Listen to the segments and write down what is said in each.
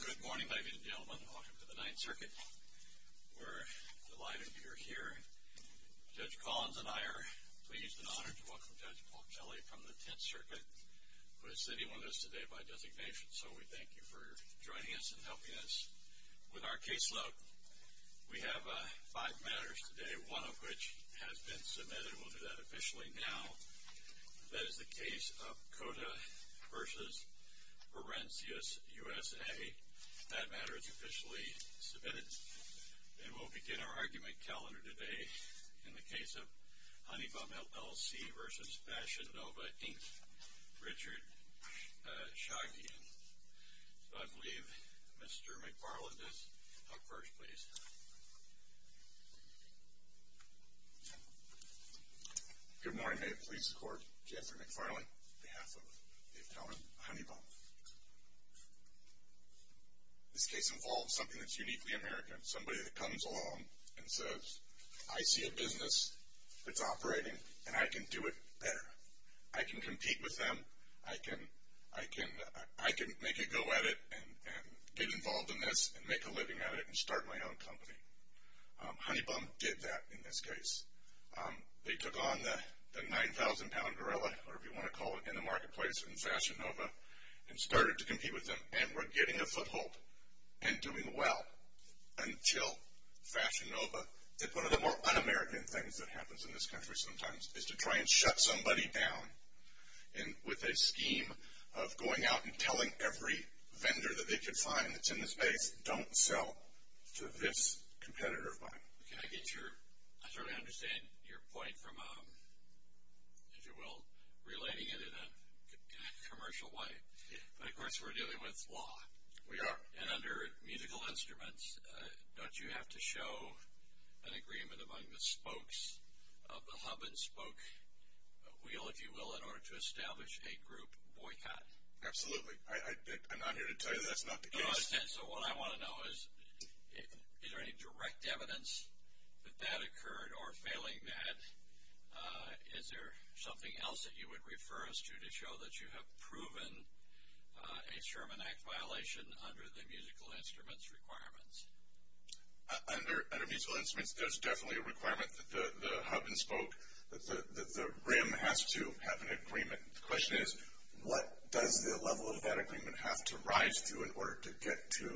Good morning, ladies and gentlemen. Welcome to the Ninth Circuit. We're delighted you're here. Judge Collins and I are pleased and honored to welcome Judge Paul Kelly from the Tenth Circuit who is sitting with us today by designation, so we thank you for joining us and helping us with our caseload. We have five matters today, one of which has been submitted. We'll do that officially now. That is the case of Cota v. Forensius, USA. That matter is officially submitted. And we'll begin our argument calendar today in the case of Honey Bum, LLC v. Fashion Nova, Inc., Richard Shagian. So I believe Mr. McFarland is up first, please. Good morning. May it please the Court, Jeffrey McFarland, on behalf of Dave Kelly, Honey Bum. This case involves something that's uniquely American, somebody that comes along and says, I see a business that's operating, and I can do it better. I can compete with them. I can make a go at it and get involved in this and make a living at it and start my own company. Honey Bum did that in this case. They took on the 9,000-pound gorilla, or if you want to call it, in the marketplace in Fashion Nova and started to compete with them, and were getting a foothold and doing well until Fashion Nova did one of the more un-American things that happens in this country sometimes, is to try and shut somebody down with a scheme of going out and telling every vendor that they could find that's in this space, don't sell to this competitor of mine. I certainly understand your point from, if you will, relating it in a commercial way. But, of course, we're dealing with law. We are. And under musical instruments, don't you have to show an agreement among the spokes of the hub and spoke wheel, if you will, in order to establish a group boycott? Absolutely. I'm not here to tell you that's not the case. So what I want to know is, is there any direct evidence that that occurred or failing that? Is there something else that you would refer us to to show that you have proven a Sherman Act violation under the musical instruments requirements? Under musical instruments, there's definitely a requirement that the hub and spoke, that the rim has to have an agreement. The question is, what does the level of that agreement have to rise to in order to get to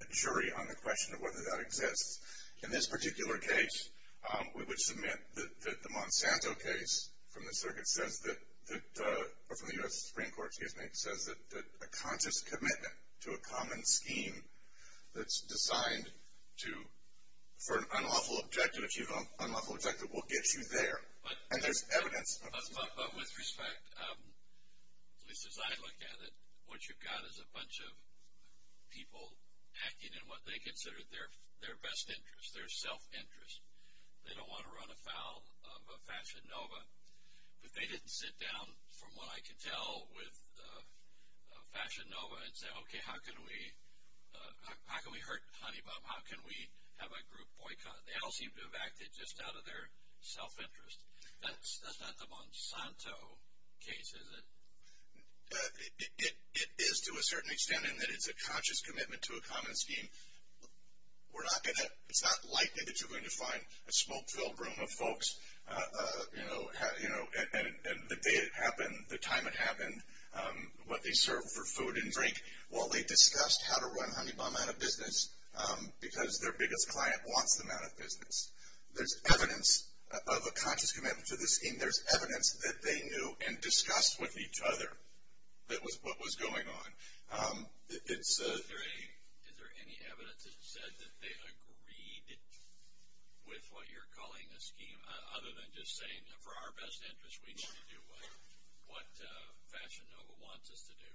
a jury on the question of whether that exists? In this particular case, we would submit that the Monsanto case from the circuit says that, or from the U.S. Supreme Court, excuse me, says that a conscious commitment to a common scheme that's designed to, for an unlawful objective, if you have an unlawful objective, will get you there. And there's evidence. But with respect, at least as I look at it, what you've got is a bunch of people acting in what they consider their best interest, their self-interest. They don't want to run afoul of a fashion nova. But they didn't sit down, from what I can tell, with a fashion nova and say, okay, how can we hurt Honeybaum, how can we have a group boycott? They all seem to have acted just out of their self-interest. That's not the Monsanto case, is it? It is to a certain extent in that it's a conscious commitment to a common scheme. We're not going to, it's not likely that you're going to find a smoke-filled room of folks, you know, and the day it happened, the time it happened, what they served for food and drink, while they discussed how to run Honeybaum out of business, because their biggest client wants them out of business. There's evidence of a conscious commitment to this scheme. There's evidence that they knew and discussed with each other what was going on. Is there any evidence that said that they agreed with what you're calling a scheme, other than just saying that for our best interest, we need to do what fashion nova wants us to do?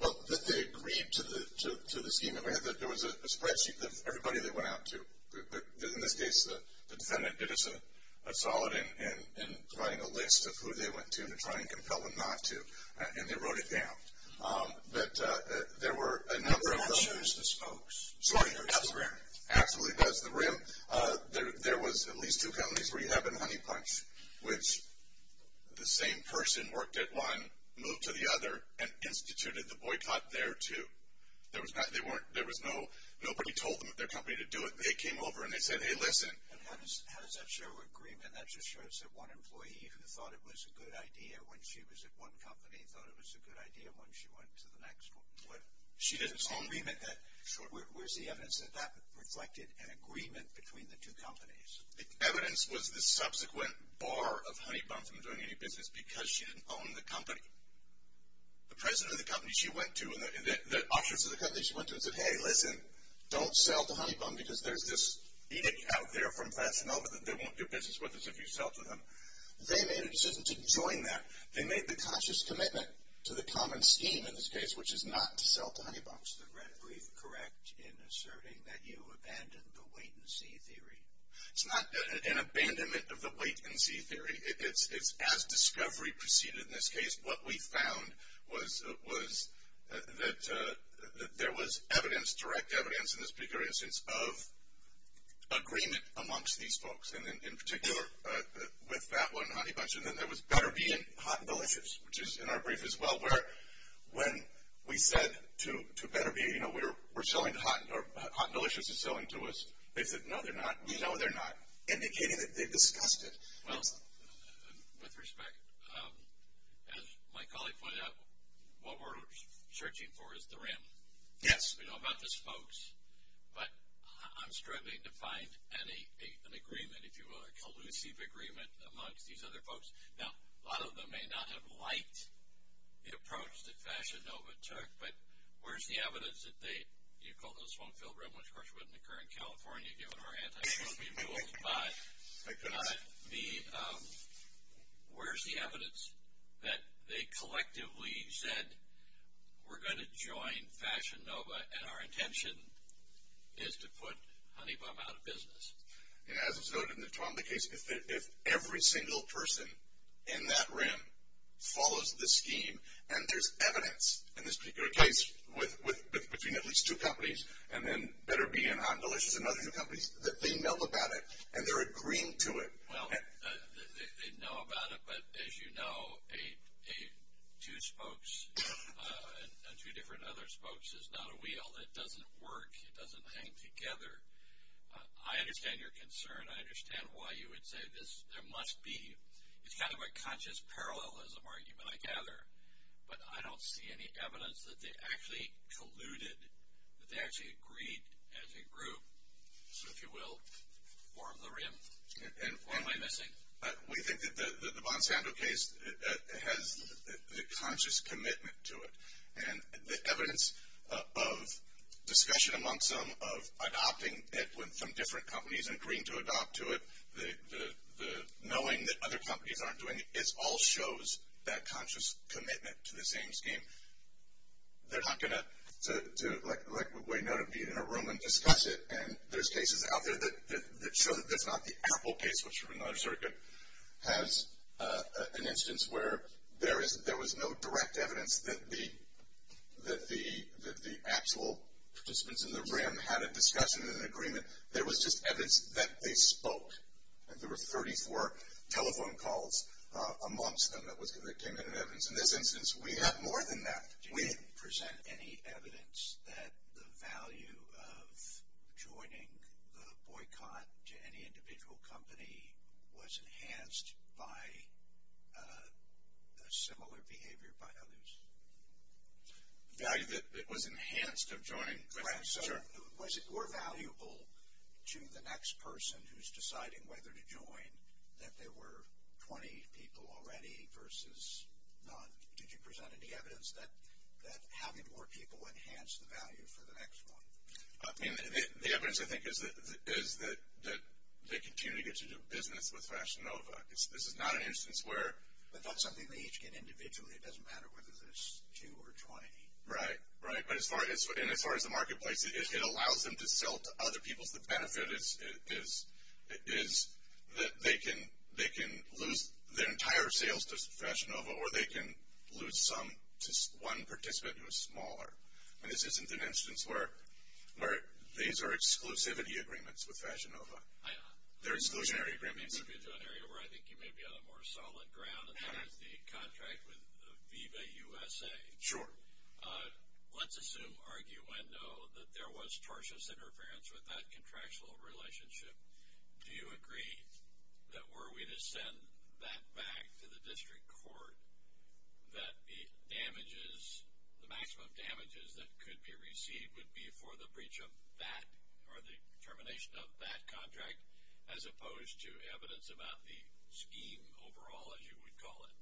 Well, that they agreed to the scheme. There was a spreadsheet of everybody they went out to. In this case, the defendant did us a solid in providing a list of who they went to to try and compel them not to, and they wrote it down. But there were a number of them. That shows the spokes. Sorry, absolutely does the rim. There was at least two companies where you have been honey punched, which the same person worked at one, moved to the other, and instituted the boycott there, too. There was no, nobody told them at their company to do it. They came over and they said, hey, listen. How does that show agreement? That just shows that one employee who thought it was a good idea when she was at one company thought it was a good idea when she went to the next one. She didn't see agreement. Where's the evidence that that reflected an agreement between the two companies? The evidence was the subsequent bar of honey bum from doing any business because she didn't own the company. The president of the company she went to and the officers of the company she went to and said, hey, listen. Don't sell to honey bum because there's this edict out there from fashion nova that they won't do business with us if you sell to them. They made a decision to join that. They made the conscious commitment to the common scheme in this case, which is not to sell to honey bums. I read brief correct in asserting that you abandoned the wait and see theory. It's not an abandonment of the wait and see theory. It's as discovery proceeded in this case. What we found was that there was evidence, direct evidence in this particular instance of agreement amongst these folks, and in particular with that one honey bunch, and then there was Better Bee and Hot and Delicious, which is in our brief as well, where when we said to Better Bee, you know, we're selling to Hot, or Hot and Delicious is selling to us. They said, no, they're not. We know they're not, indicating that they discussed it. Well, with respect, as my colleague pointed out, what we're searching for is the rim. Yes. We know about this, folks, but I'm struggling to find an agreement, if you will, a collusive agreement amongst these other folks. Now, a lot of them may not have liked the approach that Fashion Nova took, but where's the evidence that they, you called this one filled rim, which, of course, wouldn't occur in California given our anti-social rules, but where's the evidence that they collectively said, we're going to join Fashion Nova, and our intention is to put Honey Bum out of business? As was noted in the Twombly case, if every single person in that rim follows the scheme, and there's evidence in this particular case between at least two companies, and then Better Bee and Hot and Delicious and other two companies, that they know about it, and they're agreeing to it. Well, they know about it, but as you know, two spokes on two different other spokes is not a wheel. It doesn't work. It doesn't hang together. I understand your concern. I understand why you would say there must be. It's kind of a conscious parallelism argument, I gather, but I don't see any evidence that they actually colluded, that they actually agreed as a group. So, if you will, form the rim. What am I missing? We think that the Bonsanto case has the conscious commitment to it, and the evidence of discussion amongst them of adopting it when some different companies agreed to adopt to it, the knowing that other companies aren't doing it, it all shows that conscious commitment to the same scheme. They're not going to, like we know, be in a room and discuss it, and there's cases out there that show that that's not the Apple case, which is another circuit, has an instance where there was no direct evidence that the actual participants in the rim had a discussion and an agreement. There was just evidence that they spoke, and there were 34 telephone calls amongst them that came in as evidence. In this instance, we have more than that. Did you present any evidence that the value of joining the boycott to any individual company was enhanced by a similar behavior by others? The value that it was enhanced of joining? Was it more valuable to the next person who's deciding whether to join that there were 20 people already versus none? Did you present any evidence that having more people enhanced the value for the next one? The evidence, I think, is that they continue to get to do business with Fashion Nova. This is not an instance where. But that's something they each get individually. It doesn't matter whether there's two or 20. Right, right. But as far as the marketplace, it allows them to sell to other people. The benefit is that they can lose their entire sales to Fashion Nova, or they can lose some to one participant who's smaller. And this isn't an instance where these are exclusivity agreements with Fashion Nova. They're exclusionary agreements. Exclusionary where I think you may be on a more solid ground, and that is the contract with Viva USA. Sure. Let's assume, argue when no, that there was tortious interference with that contractual relationship. Do you agree that were we to send that back to the district court, that the damages, the maximum damages that could be received would be for the breach of that or the termination of that contract, as opposed to evidence about the scheme overall, as you would call it?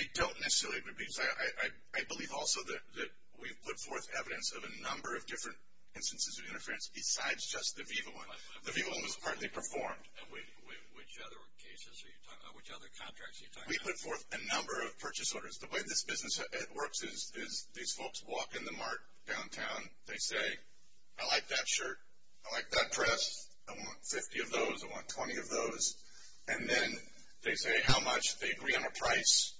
I don't necessarily agree. I believe also that we've put forth evidence of a number of different instances of interference besides just the Viva one. The Viva one was partly performed. Which other cases are you talking about? Which other contracts are you talking about? We put forth a number of purchase orders. The way this business works is these folks walk in the mart downtown. They say, I like that shirt. I like that dress. I want 50 of those. I want 20 of those. And then they say how much. They agree on a price.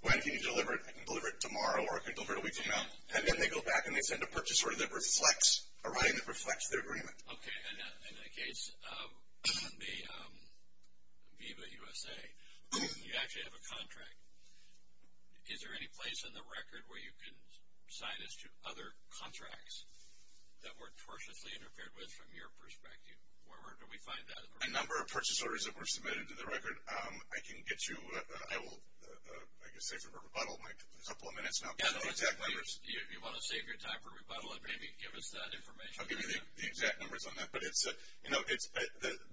When can you deliver it? I can deliver it tomorrow or I can deliver it a week from now. And then they go back and they send a purchase order that reflects a writing that reflects their agreement. Okay. In the case of the Viva USA, you actually have a contract. Is there any place in the record where you can assign this to other contracts that were tortiously interfered with from your perspective? Where do we find that? A number of purchase orders that were submitted to the record. I can get you, I will, I guess, save for rebuttal in a couple of minutes. You want to save your time for rebuttal and maybe give us that information. I'll give you the exact numbers on that. But, you know,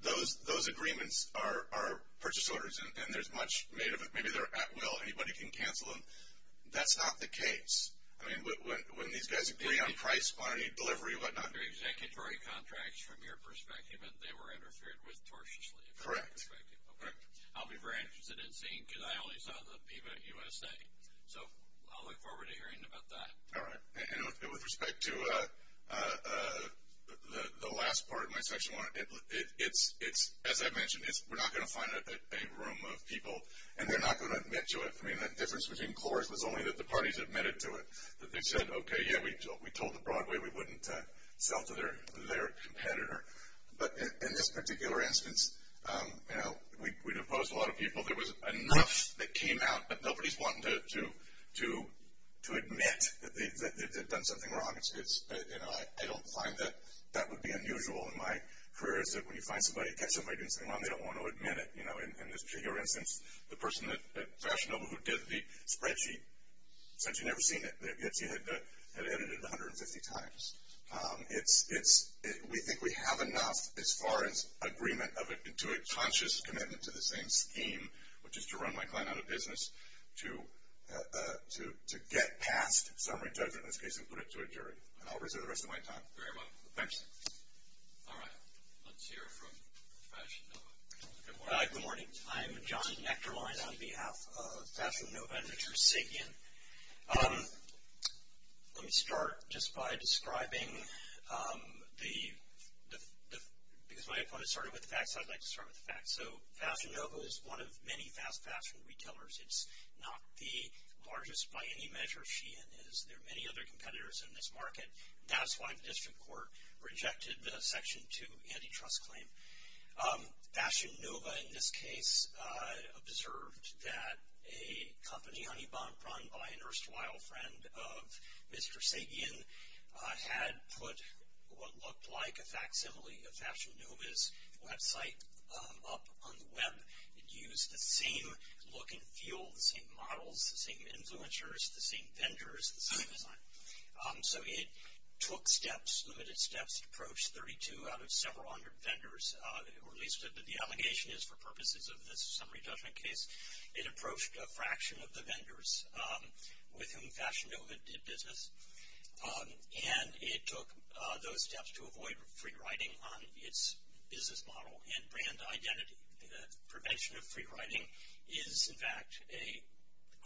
those agreements are purchase orders. And there's much made of it. Maybe they're at will. Anybody can cancel them. That's not the case. I mean, when these guys agree on price, quantity, delivery, whatnot. Those are executory contracts from your perspective, and they were interfered with tortiously. Correct. Okay. I'll be very interested in seeing, because I only saw the Viva USA. So I'll look forward to hearing about that. All right. And with respect to the last part of my section, it's, as I mentioned, we're not going to find a room of people, and they're not going to admit to it. I mean, the difference between course was only that the parties admitted to it. They said, okay, yeah, we told the Broadway we wouldn't sell to their competitor. But in this particular instance, you know, we'd opposed a lot of people. There was enough that came out, but nobody's wanting to admit that they've done something wrong. You know, I don't find that that would be unusual in my career, is that when you catch somebody doing something wrong, they don't want to admit it. You know, in this particular instance, the person at Fashion Nova who did the spreadsheet, since you've never seen it, had edited it 150 times. We think we have enough as far as agreement to a conscious commitment to the same scheme, which is to run my client out of business, to get past summary judgment in this case and put it to a jury. And I'll reserve the rest of my time. Very well. Thanks. All right. Let's hear from Fashion Nova. Good morning. I'm John Nechterlein on behalf of Fashion Nova and Richard Sabian. Let me start just by describing the – because my opponent started with the facts, I'd like to start with the facts. So Fashion Nova is one of many fast fashion retailers. It's not the largest by any measure she is. There are many other competitors in this market. That's why the district court rejected the Section 2 antitrust claim. Fashion Nova, in this case, observed that a company, Honeybomb, run by an erstwhile friend of Mr. Sabian, had put what looked like a facsimile of Fashion Nova's website up on the web. It used the same look and feel, the same models, the same influencers, the same vendors, the same design. So it took steps, limited steps, to approach 32 out of several hundred vendors, or at least the allegation is for purposes of this summary judgment case, it approached a fraction of the vendors with whom Fashion Nova did business, and it took those steps to avoid free riding on its business model and brand identity. The prevention of free riding is, in fact, a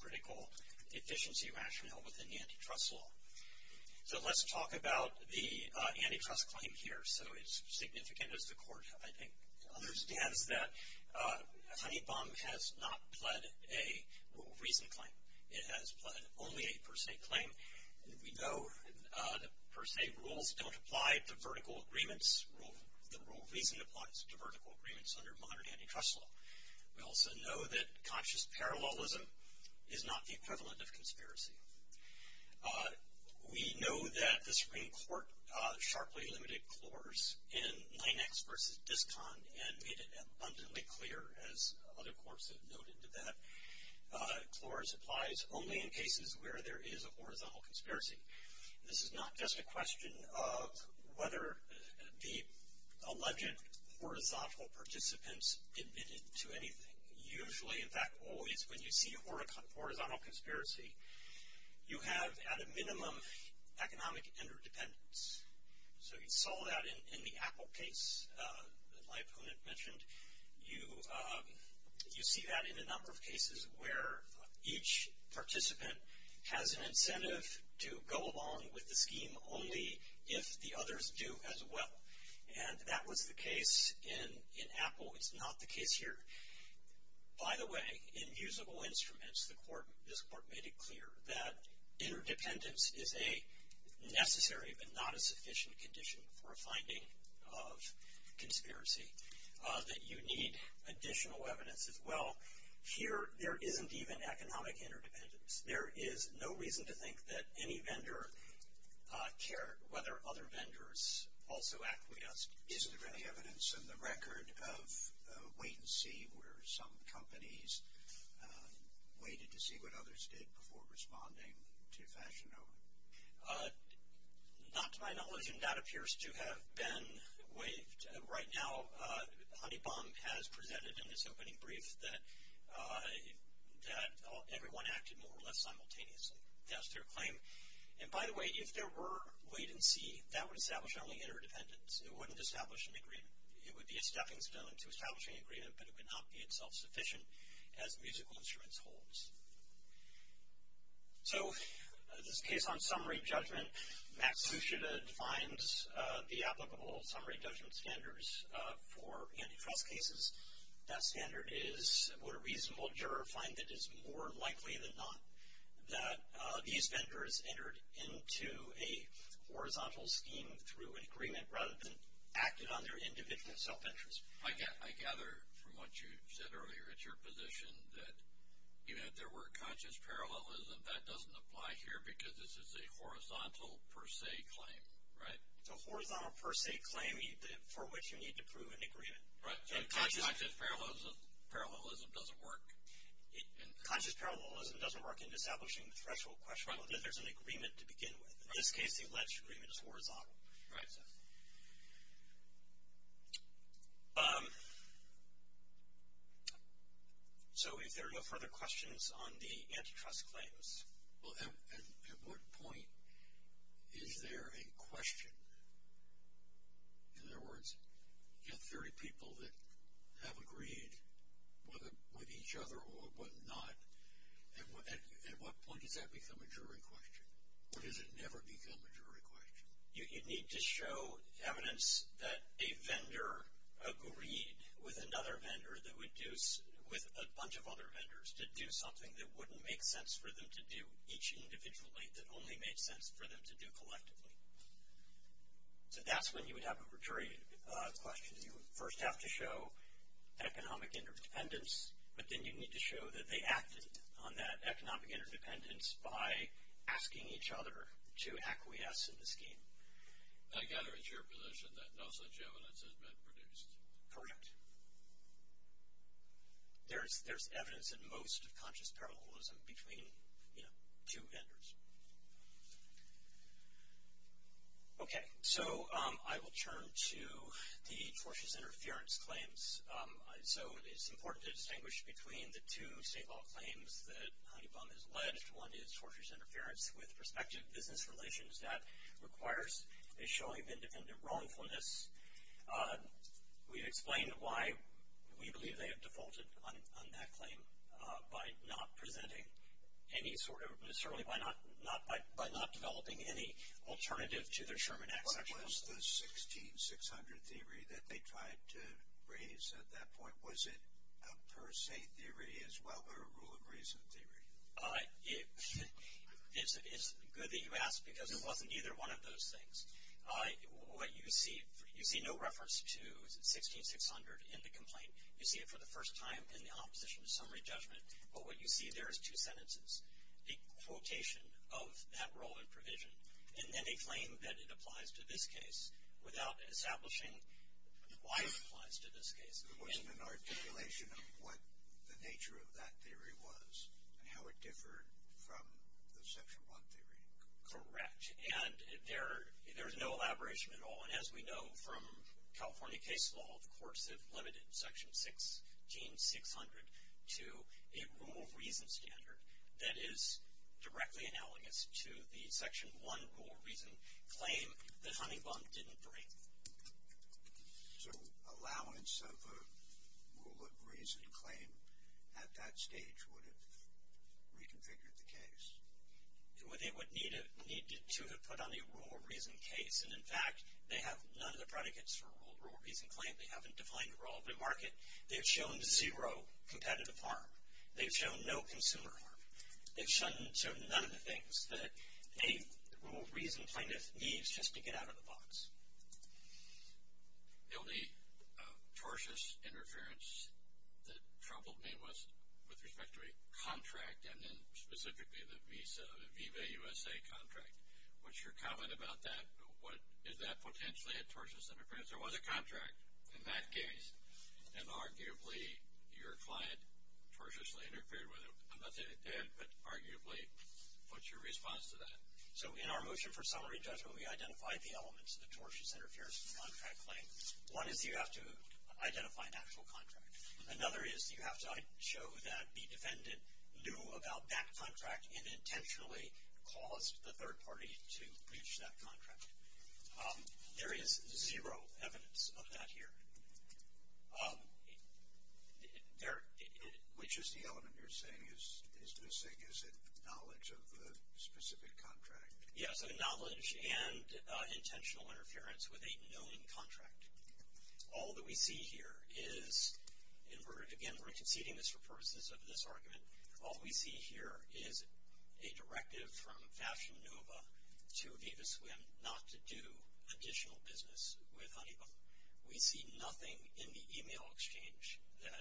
critical efficiency rationale within the antitrust law. So let's talk about the antitrust claim here. So as significant as the court, I think, understands that Honeybomb has not pled a rule of reason claim. It has pled only a per se claim. We know that per se rules don't apply to vertical agreements. The rule of reason applies to vertical agreements under modern antitrust law. We also know that conscious parallelism is not the equivalent of conspiracy. We know that the Supreme Court sharply limited CLORs in 9X versus DISCON and made it abundantly clear, as other courts have noted to that, CLORs applies only in cases where there is a horizontal conspiracy. This is not just a question of whether the alleged horizontal participants admitted to anything. Usually, in fact, always, when you see a horizontal conspiracy, you have at a minimum economic interdependence. So you saw that in the Apple case that my opponent mentioned. You see that in a number of cases where each participant has an incentive to go along with the scheme only if the others do as well. And that was the case in Apple. It's not the case here. By the way, in usable instruments, this court made it clear that interdependence is a necessary but not a sufficient condition for a finding of conspiracy. That you need additional evidence as well. Here, there isn't even economic interdependence. There is no reason to think that any vendor cared whether other vendors also acquiesced. Isn't there any evidence in the record of wait and see where some companies waited to see what others did before responding to fashion over? Not to my knowledge, and that appears to have been waived. Right now, Honeybaum has presented in its opening brief that everyone acted more or less simultaneously. That's their claim. And by the way, if there were wait and see, that would establish only interdependence. It wouldn't establish an agreement. It would be a stepping stone to establishing an agreement, but it would not be itself sufficient as musical instruments holds. So, this case on summary judgment, Max Sucheta defines the applicable summary judgment standards for antitrust cases. That standard is what a reasonable juror finds that is more likely than not that these vendors entered into a horizontal scheme through an agreement rather than acted on their individual self-interest. I gather from what you said earlier, it's your position that even if there were conscious parallelism, that doesn't apply here because this is a horizontal per se claim, right? It's a horizontal per se claim for which you need to prove an agreement. Right. Conscious parallelism doesn't work. Conscious parallelism doesn't work in establishing the threshold question, but there's an agreement to begin with. In this case, the alleged agreement is horizontal. Right. So, if there are no further questions on the antitrust claims. At what point is there a question? In other words, you have 30 people that have agreed with each other or whatnot. At what point does that become a jury question? What does it never become a jury question? You need to show evidence that a vendor agreed with another vendor that would do, with a bunch of other vendors, to do something that wouldn't make sense for them to do each individually, that only made sense for them to do collectively. So, that's when you would have a jury question. You would first have to show economic interdependence, but then you'd need to show that they acted on that economic interdependence by asking each other to acquiesce in the scheme. I gather it's your position that no such evidence has been produced. Correct. There's evidence at most of conscious parallelism between, you know, two vendors. Okay. So, I will turn to the tortious interference claims. So, it's important to distinguish between the two state law claims that Honeybaum has alleged. One is tortious interference with prospective business relations. That requires a showing of independent wrongfulness. We've explained why we believe they have defaulted on that claim by not presenting any sort of, necessarily by not developing any alternative to their Sherman Act section. What was the 16600 theory that they tried to raise at that point? Was it a per se theory as well, or a rule of reason theory? It's good that you ask, because it wasn't either one of those things. What you see, you see no reference to 16600 in the complaint. You see it for the first time in the opposition to summary judgment. But what you see there is two sentences, a quotation of that role in provision, and then a claim that it applies to this case without establishing why it applies to this case. It wasn't an articulation of what the nature of that theory was and how it differed from the section one theory. Correct. And there's no elaboration at all. And as we know from California case law, the courts have limited section 16600 to a rule of reason standard that is directly analogous to the section one rule of reason claim that Honeybaum didn't bring. So allowance of a rule of reason claim at that stage would have reconfigured the case? It would need to have put on a rule of reason case. And, in fact, they have none of the predicates for a rule of reason claim. They haven't defined a relevant market. They've shown zero competitive harm. They've shown no consumer harm. They've shown none of the things that a rule of reason claim needs just to get out of the box. The only tortious interference that troubled me was with respect to a contract, and then specifically the Visa, the Viva USA contract. What's your comment about that? Is that potentially a tortious interference? There was a contract in that case, and arguably your client tortiously interfered with it. I'm not saying it did, but arguably. What's your response to that? So in our motion for summary judgment, we identified the elements of the tortious interference contract claim. One is you have to identify an actual contract. Another is you have to show that the defendant knew about that contract and intentionally caused the third party to breach that contract. There is zero evidence of that here. Which is the element you're saying is missing? Is it knowledge of the specific contract? Yeah, so knowledge and intentional interference with a known contract. All that we see here is, and again, we're conceding this for purposes of this argument, all we see here is a directive from Fashion Nova to Viva Swim not to do additional business with Honeywell. We see nothing in the e-mail exchange that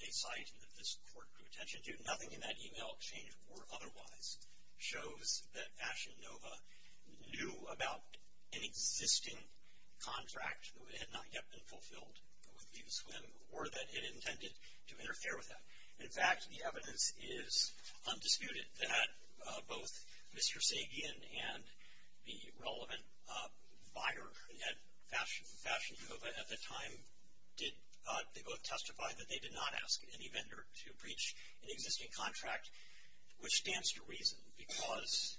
they cite and that this court drew attention to. Nothing in that e-mail exchange or otherwise shows that Fashion Nova knew about an existing contract that had not yet been fulfilled with Viva Swim or that it intended to interfere with them. In fact, the evidence is undisputed that both Mr. Sagan and the relevant buyer at Fashion Nova at the time, they both testified that they did not ask any vendor to breach an existing contract, which stands to reason. Because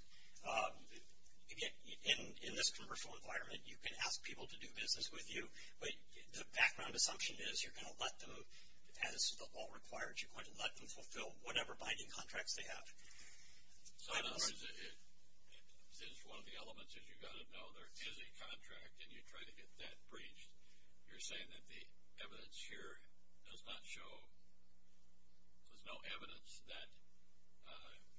in this commercial environment, you can ask people to do business with you, but the background assumption is you're going to let them, as the law requires, you're going to let them fulfill whatever binding contracts they have. So in other words, since one of the elements is you've got to know there is a contract and you try to get that breached, you're saying that the evidence here does not show, there's no evidence that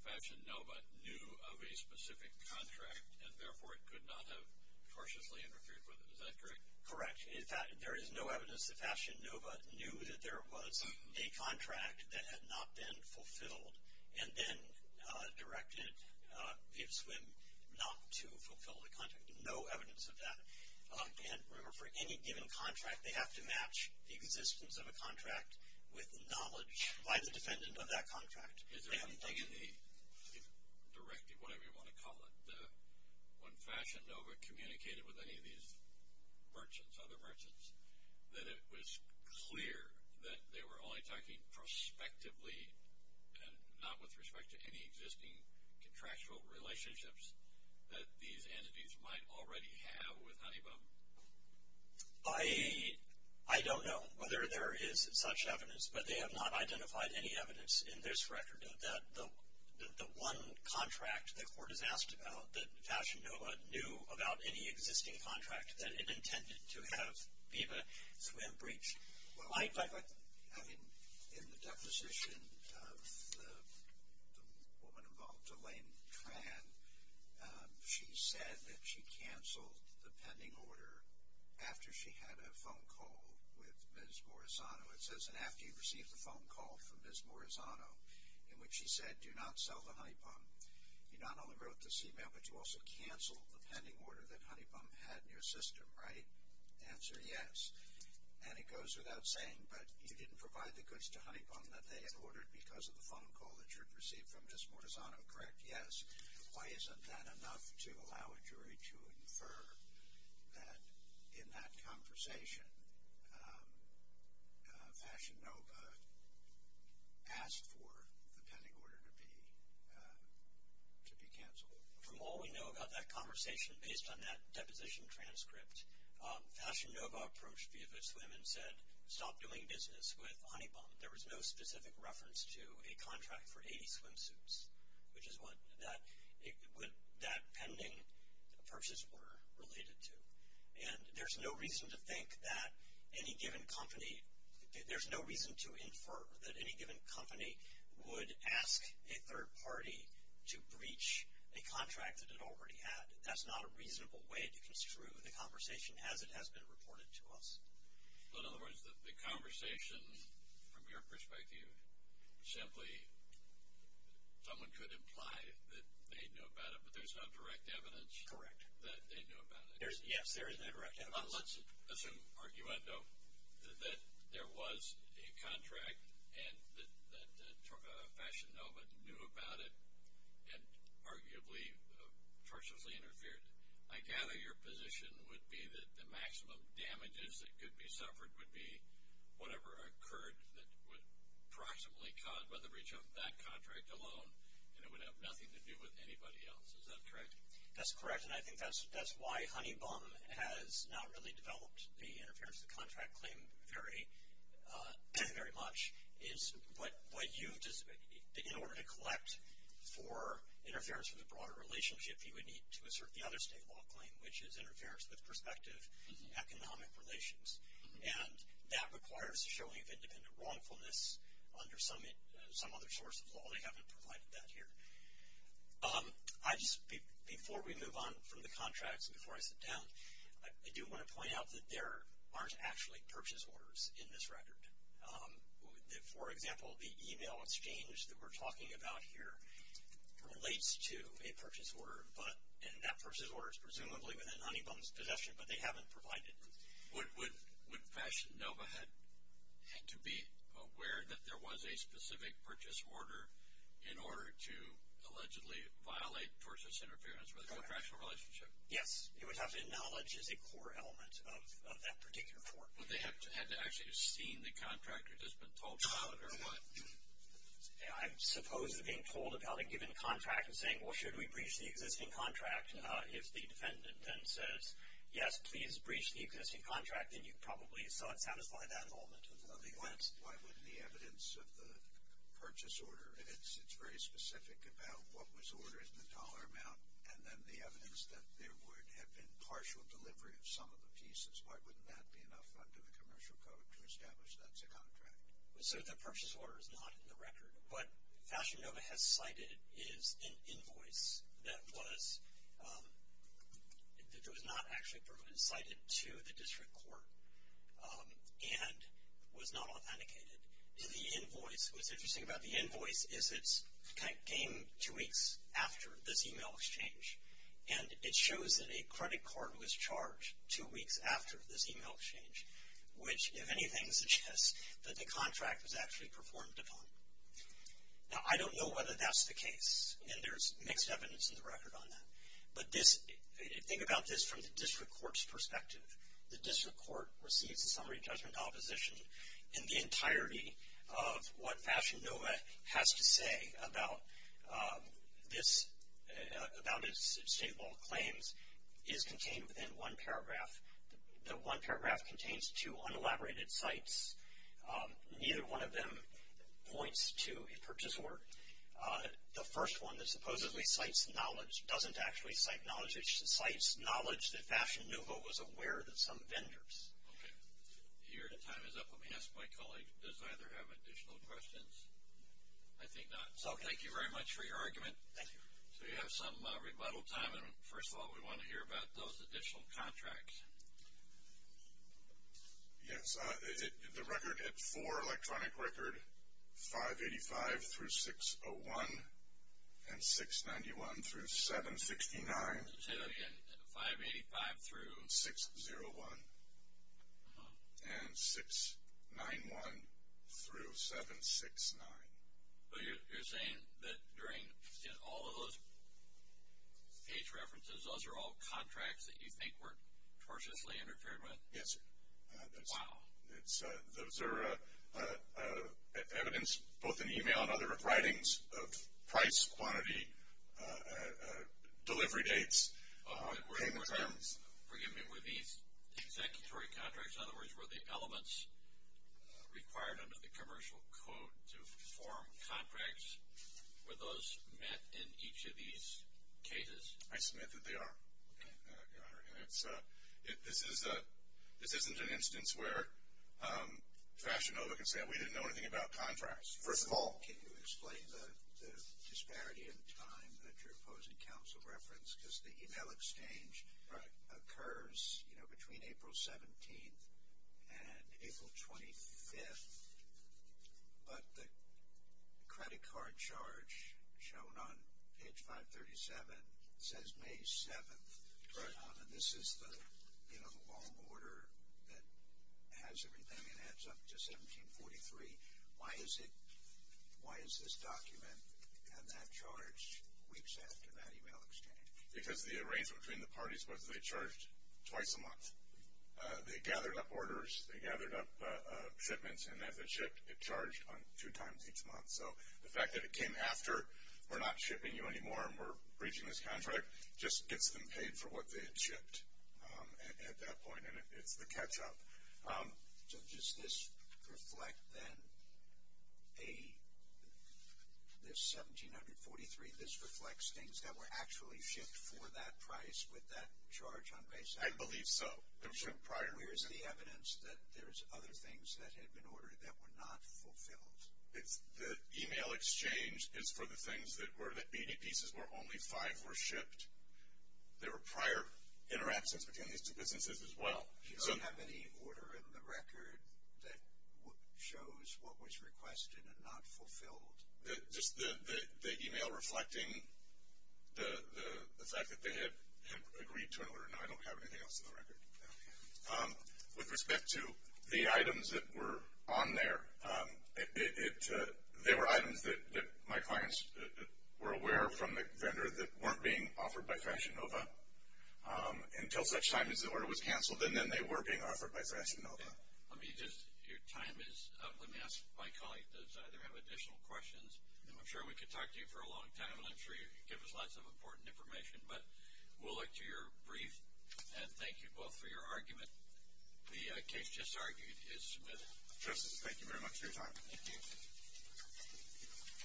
Fashion Nova knew of a specific contract and therefore it could not have cautiously interfered with it. Is that correct? Correct. In fact, there is no evidence that Fashion Nova knew that there was a contract that had not been fulfilled and then directed Viva Swim not to fulfill the contract. No evidence of that. And remember, for any given contract, they have to match the existence of a contract with knowledge by the defendant of that contract. Is there anything in the directive, whatever you want to call it, when Fashion Nova communicated with any of these merchants, other merchants, that it was clear that they were only talking prospectively and not with respect to any existing contractual relationships that these entities might already have with Honeybaum? I don't know whether there is such evidence, but they have not identified any evidence in this record that the one contract the court has asked about that Fashion Nova knew about any existing contract that it intended to have Viva Swim breached. I mean, in the deposition of the woman involved, Elaine Tran, she said that she canceled the pending order after she had a phone call with Ms. Morisano. It says, and after you received the phone call from Ms. Morisano, in which she said, do not sell to Honeybaum. You not only wrote this email, but you also canceled the pending order that Honeybaum had in your system, right? Answer, yes. And it goes without saying, but you didn't provide the goods to Honeybaum that they had ordered because of the phone call that you had received from Ms. Morisano, correct? Yes. Why isn't that enough to allow a jury to infer that in that conversation, Fashion Nova asked for the pending order to be canceled? From all we know about that conversation, based on that deposition transcript, Fashion Nova approached Viva Swim and said, stop doing business with Honeybaum. There was no specific reference to a contract for 80 swimsuits, which is what that pending purchase order related to. And there's no reason to think that any given company – there's no reason to infer that any given company would ask a third party to breach a contract that it already had. That's not a reasonable way to construe the conversation as it has been reported to us. In other words, the conversation from your perspective, simply someone could imply that they knew about it, but there's no direct evidence that they knew about it. Yes, there is no direct evidence. Let's assume, arguendo, that there was a contract and that Fashion Nova knew about it and arguably torturously interfered. I gather your position would be that the maximum damages that could be suffered would be whatever occurred that would approximately cause whether we jump that contract alone, and it would have nothing to do with anybody else. Is that correct? That's correct. And I think that's why Honeybaum has not really developed the interference of the contract claim very much. In order to collect for interference with a broader relationship, you would need to assert the other state law claim, which is interference with prospective economic relations. And that requires a showing of independent wrongfulness under some other source of law. They haven't provided that here. Before we move on from the contracts and before I sit down, I do want to point out that there aren't actually purchase orders in this record. For example, the e-mail exchange that we're talking about here relates to a purchase order, and that purchase order is presumably within Honeybaum's possession, but they haven't provided it. Would Fashion Nova have to be aware that there was a specific purchase order in order to allegedly violate torturous interference with a contractual relationship? Yes. It would have to acknowledge as a core element of that particular tort. Would they have to actually have seen the contract or just been told about it or what? I suppose they're being told about a given contract and saying, well, should we breach the existing contract? If the defendant then says, yes, please breach the existing contract, then you probably saw it satisfied at that moment. Why wouldn't the evidence of the purchase order, it's very specific about what was ordered in the dollar amount, and then the evidence that there would have been partial delivery of some of the pieces, why wouldn't that be enough under the commercial code to establish that's a contract? So the purchase order is not in the record. What Fashion Nova has cited is an invoice that was not actually provided, cited to the district court and was not authenticated. The invoice, what's interesting about the invoice is it came two weeks after this e-mail exchange, and it shows that a credit card was charged two weeks after this e-mail exchange, which, if anything, suggests that the contract was actually performed upon. Now, I don't know whether that's the case, and there's mixed evidence in the record on that, but think about this from the district court's perspective. The district court receives a summary judgment opposition in the entirety of what Fashion Nova has to say about its state law claims is contained within one paragraph. The one paragraph contains two unelaborated cites. Neither one of them points to a purchase order. The first one that supposedly cites knowledge doesn't actually cite knowledge. It cites knowledge that Fashion Nova was aware that some vendors. Okay. Your time is up. Let me ask my colleague, does either have additional questions? I think not. So, thank you very much for your argument. Thank you. So, you have some rebuttal time, and first of all, we want to hear about those additional contracts. Yes. The record at 4, electronic record, 585 through 601 and 691 through 769. Say that again. 585 through 601 and 691 through 769. So, you're saying that during all of those page references, those are all contracts that you think were tortiously interfered with? Yes, sir. Wow. Those are evidence, both in email and other writings, of price, quantity, delivery dates. Forgive me, were these executory contracts, in other words, were the elements required under the commercial code to form contracts, were those met in each of these cases? I submit that they are. Okay. Fashion Nova can say we didn't know anything about contracts, first of all. Can you explain the disparity in time that your opposing counsel referenced? Because the email exchange occurs between April 17th and April 25th, but the credit card charge shown on page 537 says May 7th. Right. And this is the long order that has everything and adds up to 1743. Why is this document and that charge weeks after that email exchange? Because the arrangement between the parties was they charged twice a month. They gathered up orders, they gathered up shipments, and as it shipped it charged two times each month. So, the fact that it came after we're not shipping you anymore and we're breaching this contract just gets them paid for what they had shipped at that point, and it's the catch-up. So, does this reflect, then, this 1743, this reflects things that were actually shipped for that price with that charge on May 7th? I believe so. Where is the evidence that there's other things that had been ordered that were not fulfilled? The email exchange is for the things that were the 80 pieces where only five were shipped. There were prior interactions between these two businesses as well. Do you have any order in the record that shows what was requested and not fulfilled? Just the email reflecting the fact that they had agreed to an order. No, I don't have anything else in the record. With respect to the items that were on there, they were items that my clients were aware from the vendor that weren't being offered by Fashion Nova until such time as the order was canceled, and then they were being offered by Fashion Nova. Let me just, your time is up. Let me ask my colleague, does either have additional questions? I'm sure we could talk to you for a long time, and I'm sure you'd give us lots of important information, but we'll look to your brief, and thank you both for your argument. The case just argued is submitted. Justice, thank you very much for your time. Thank you.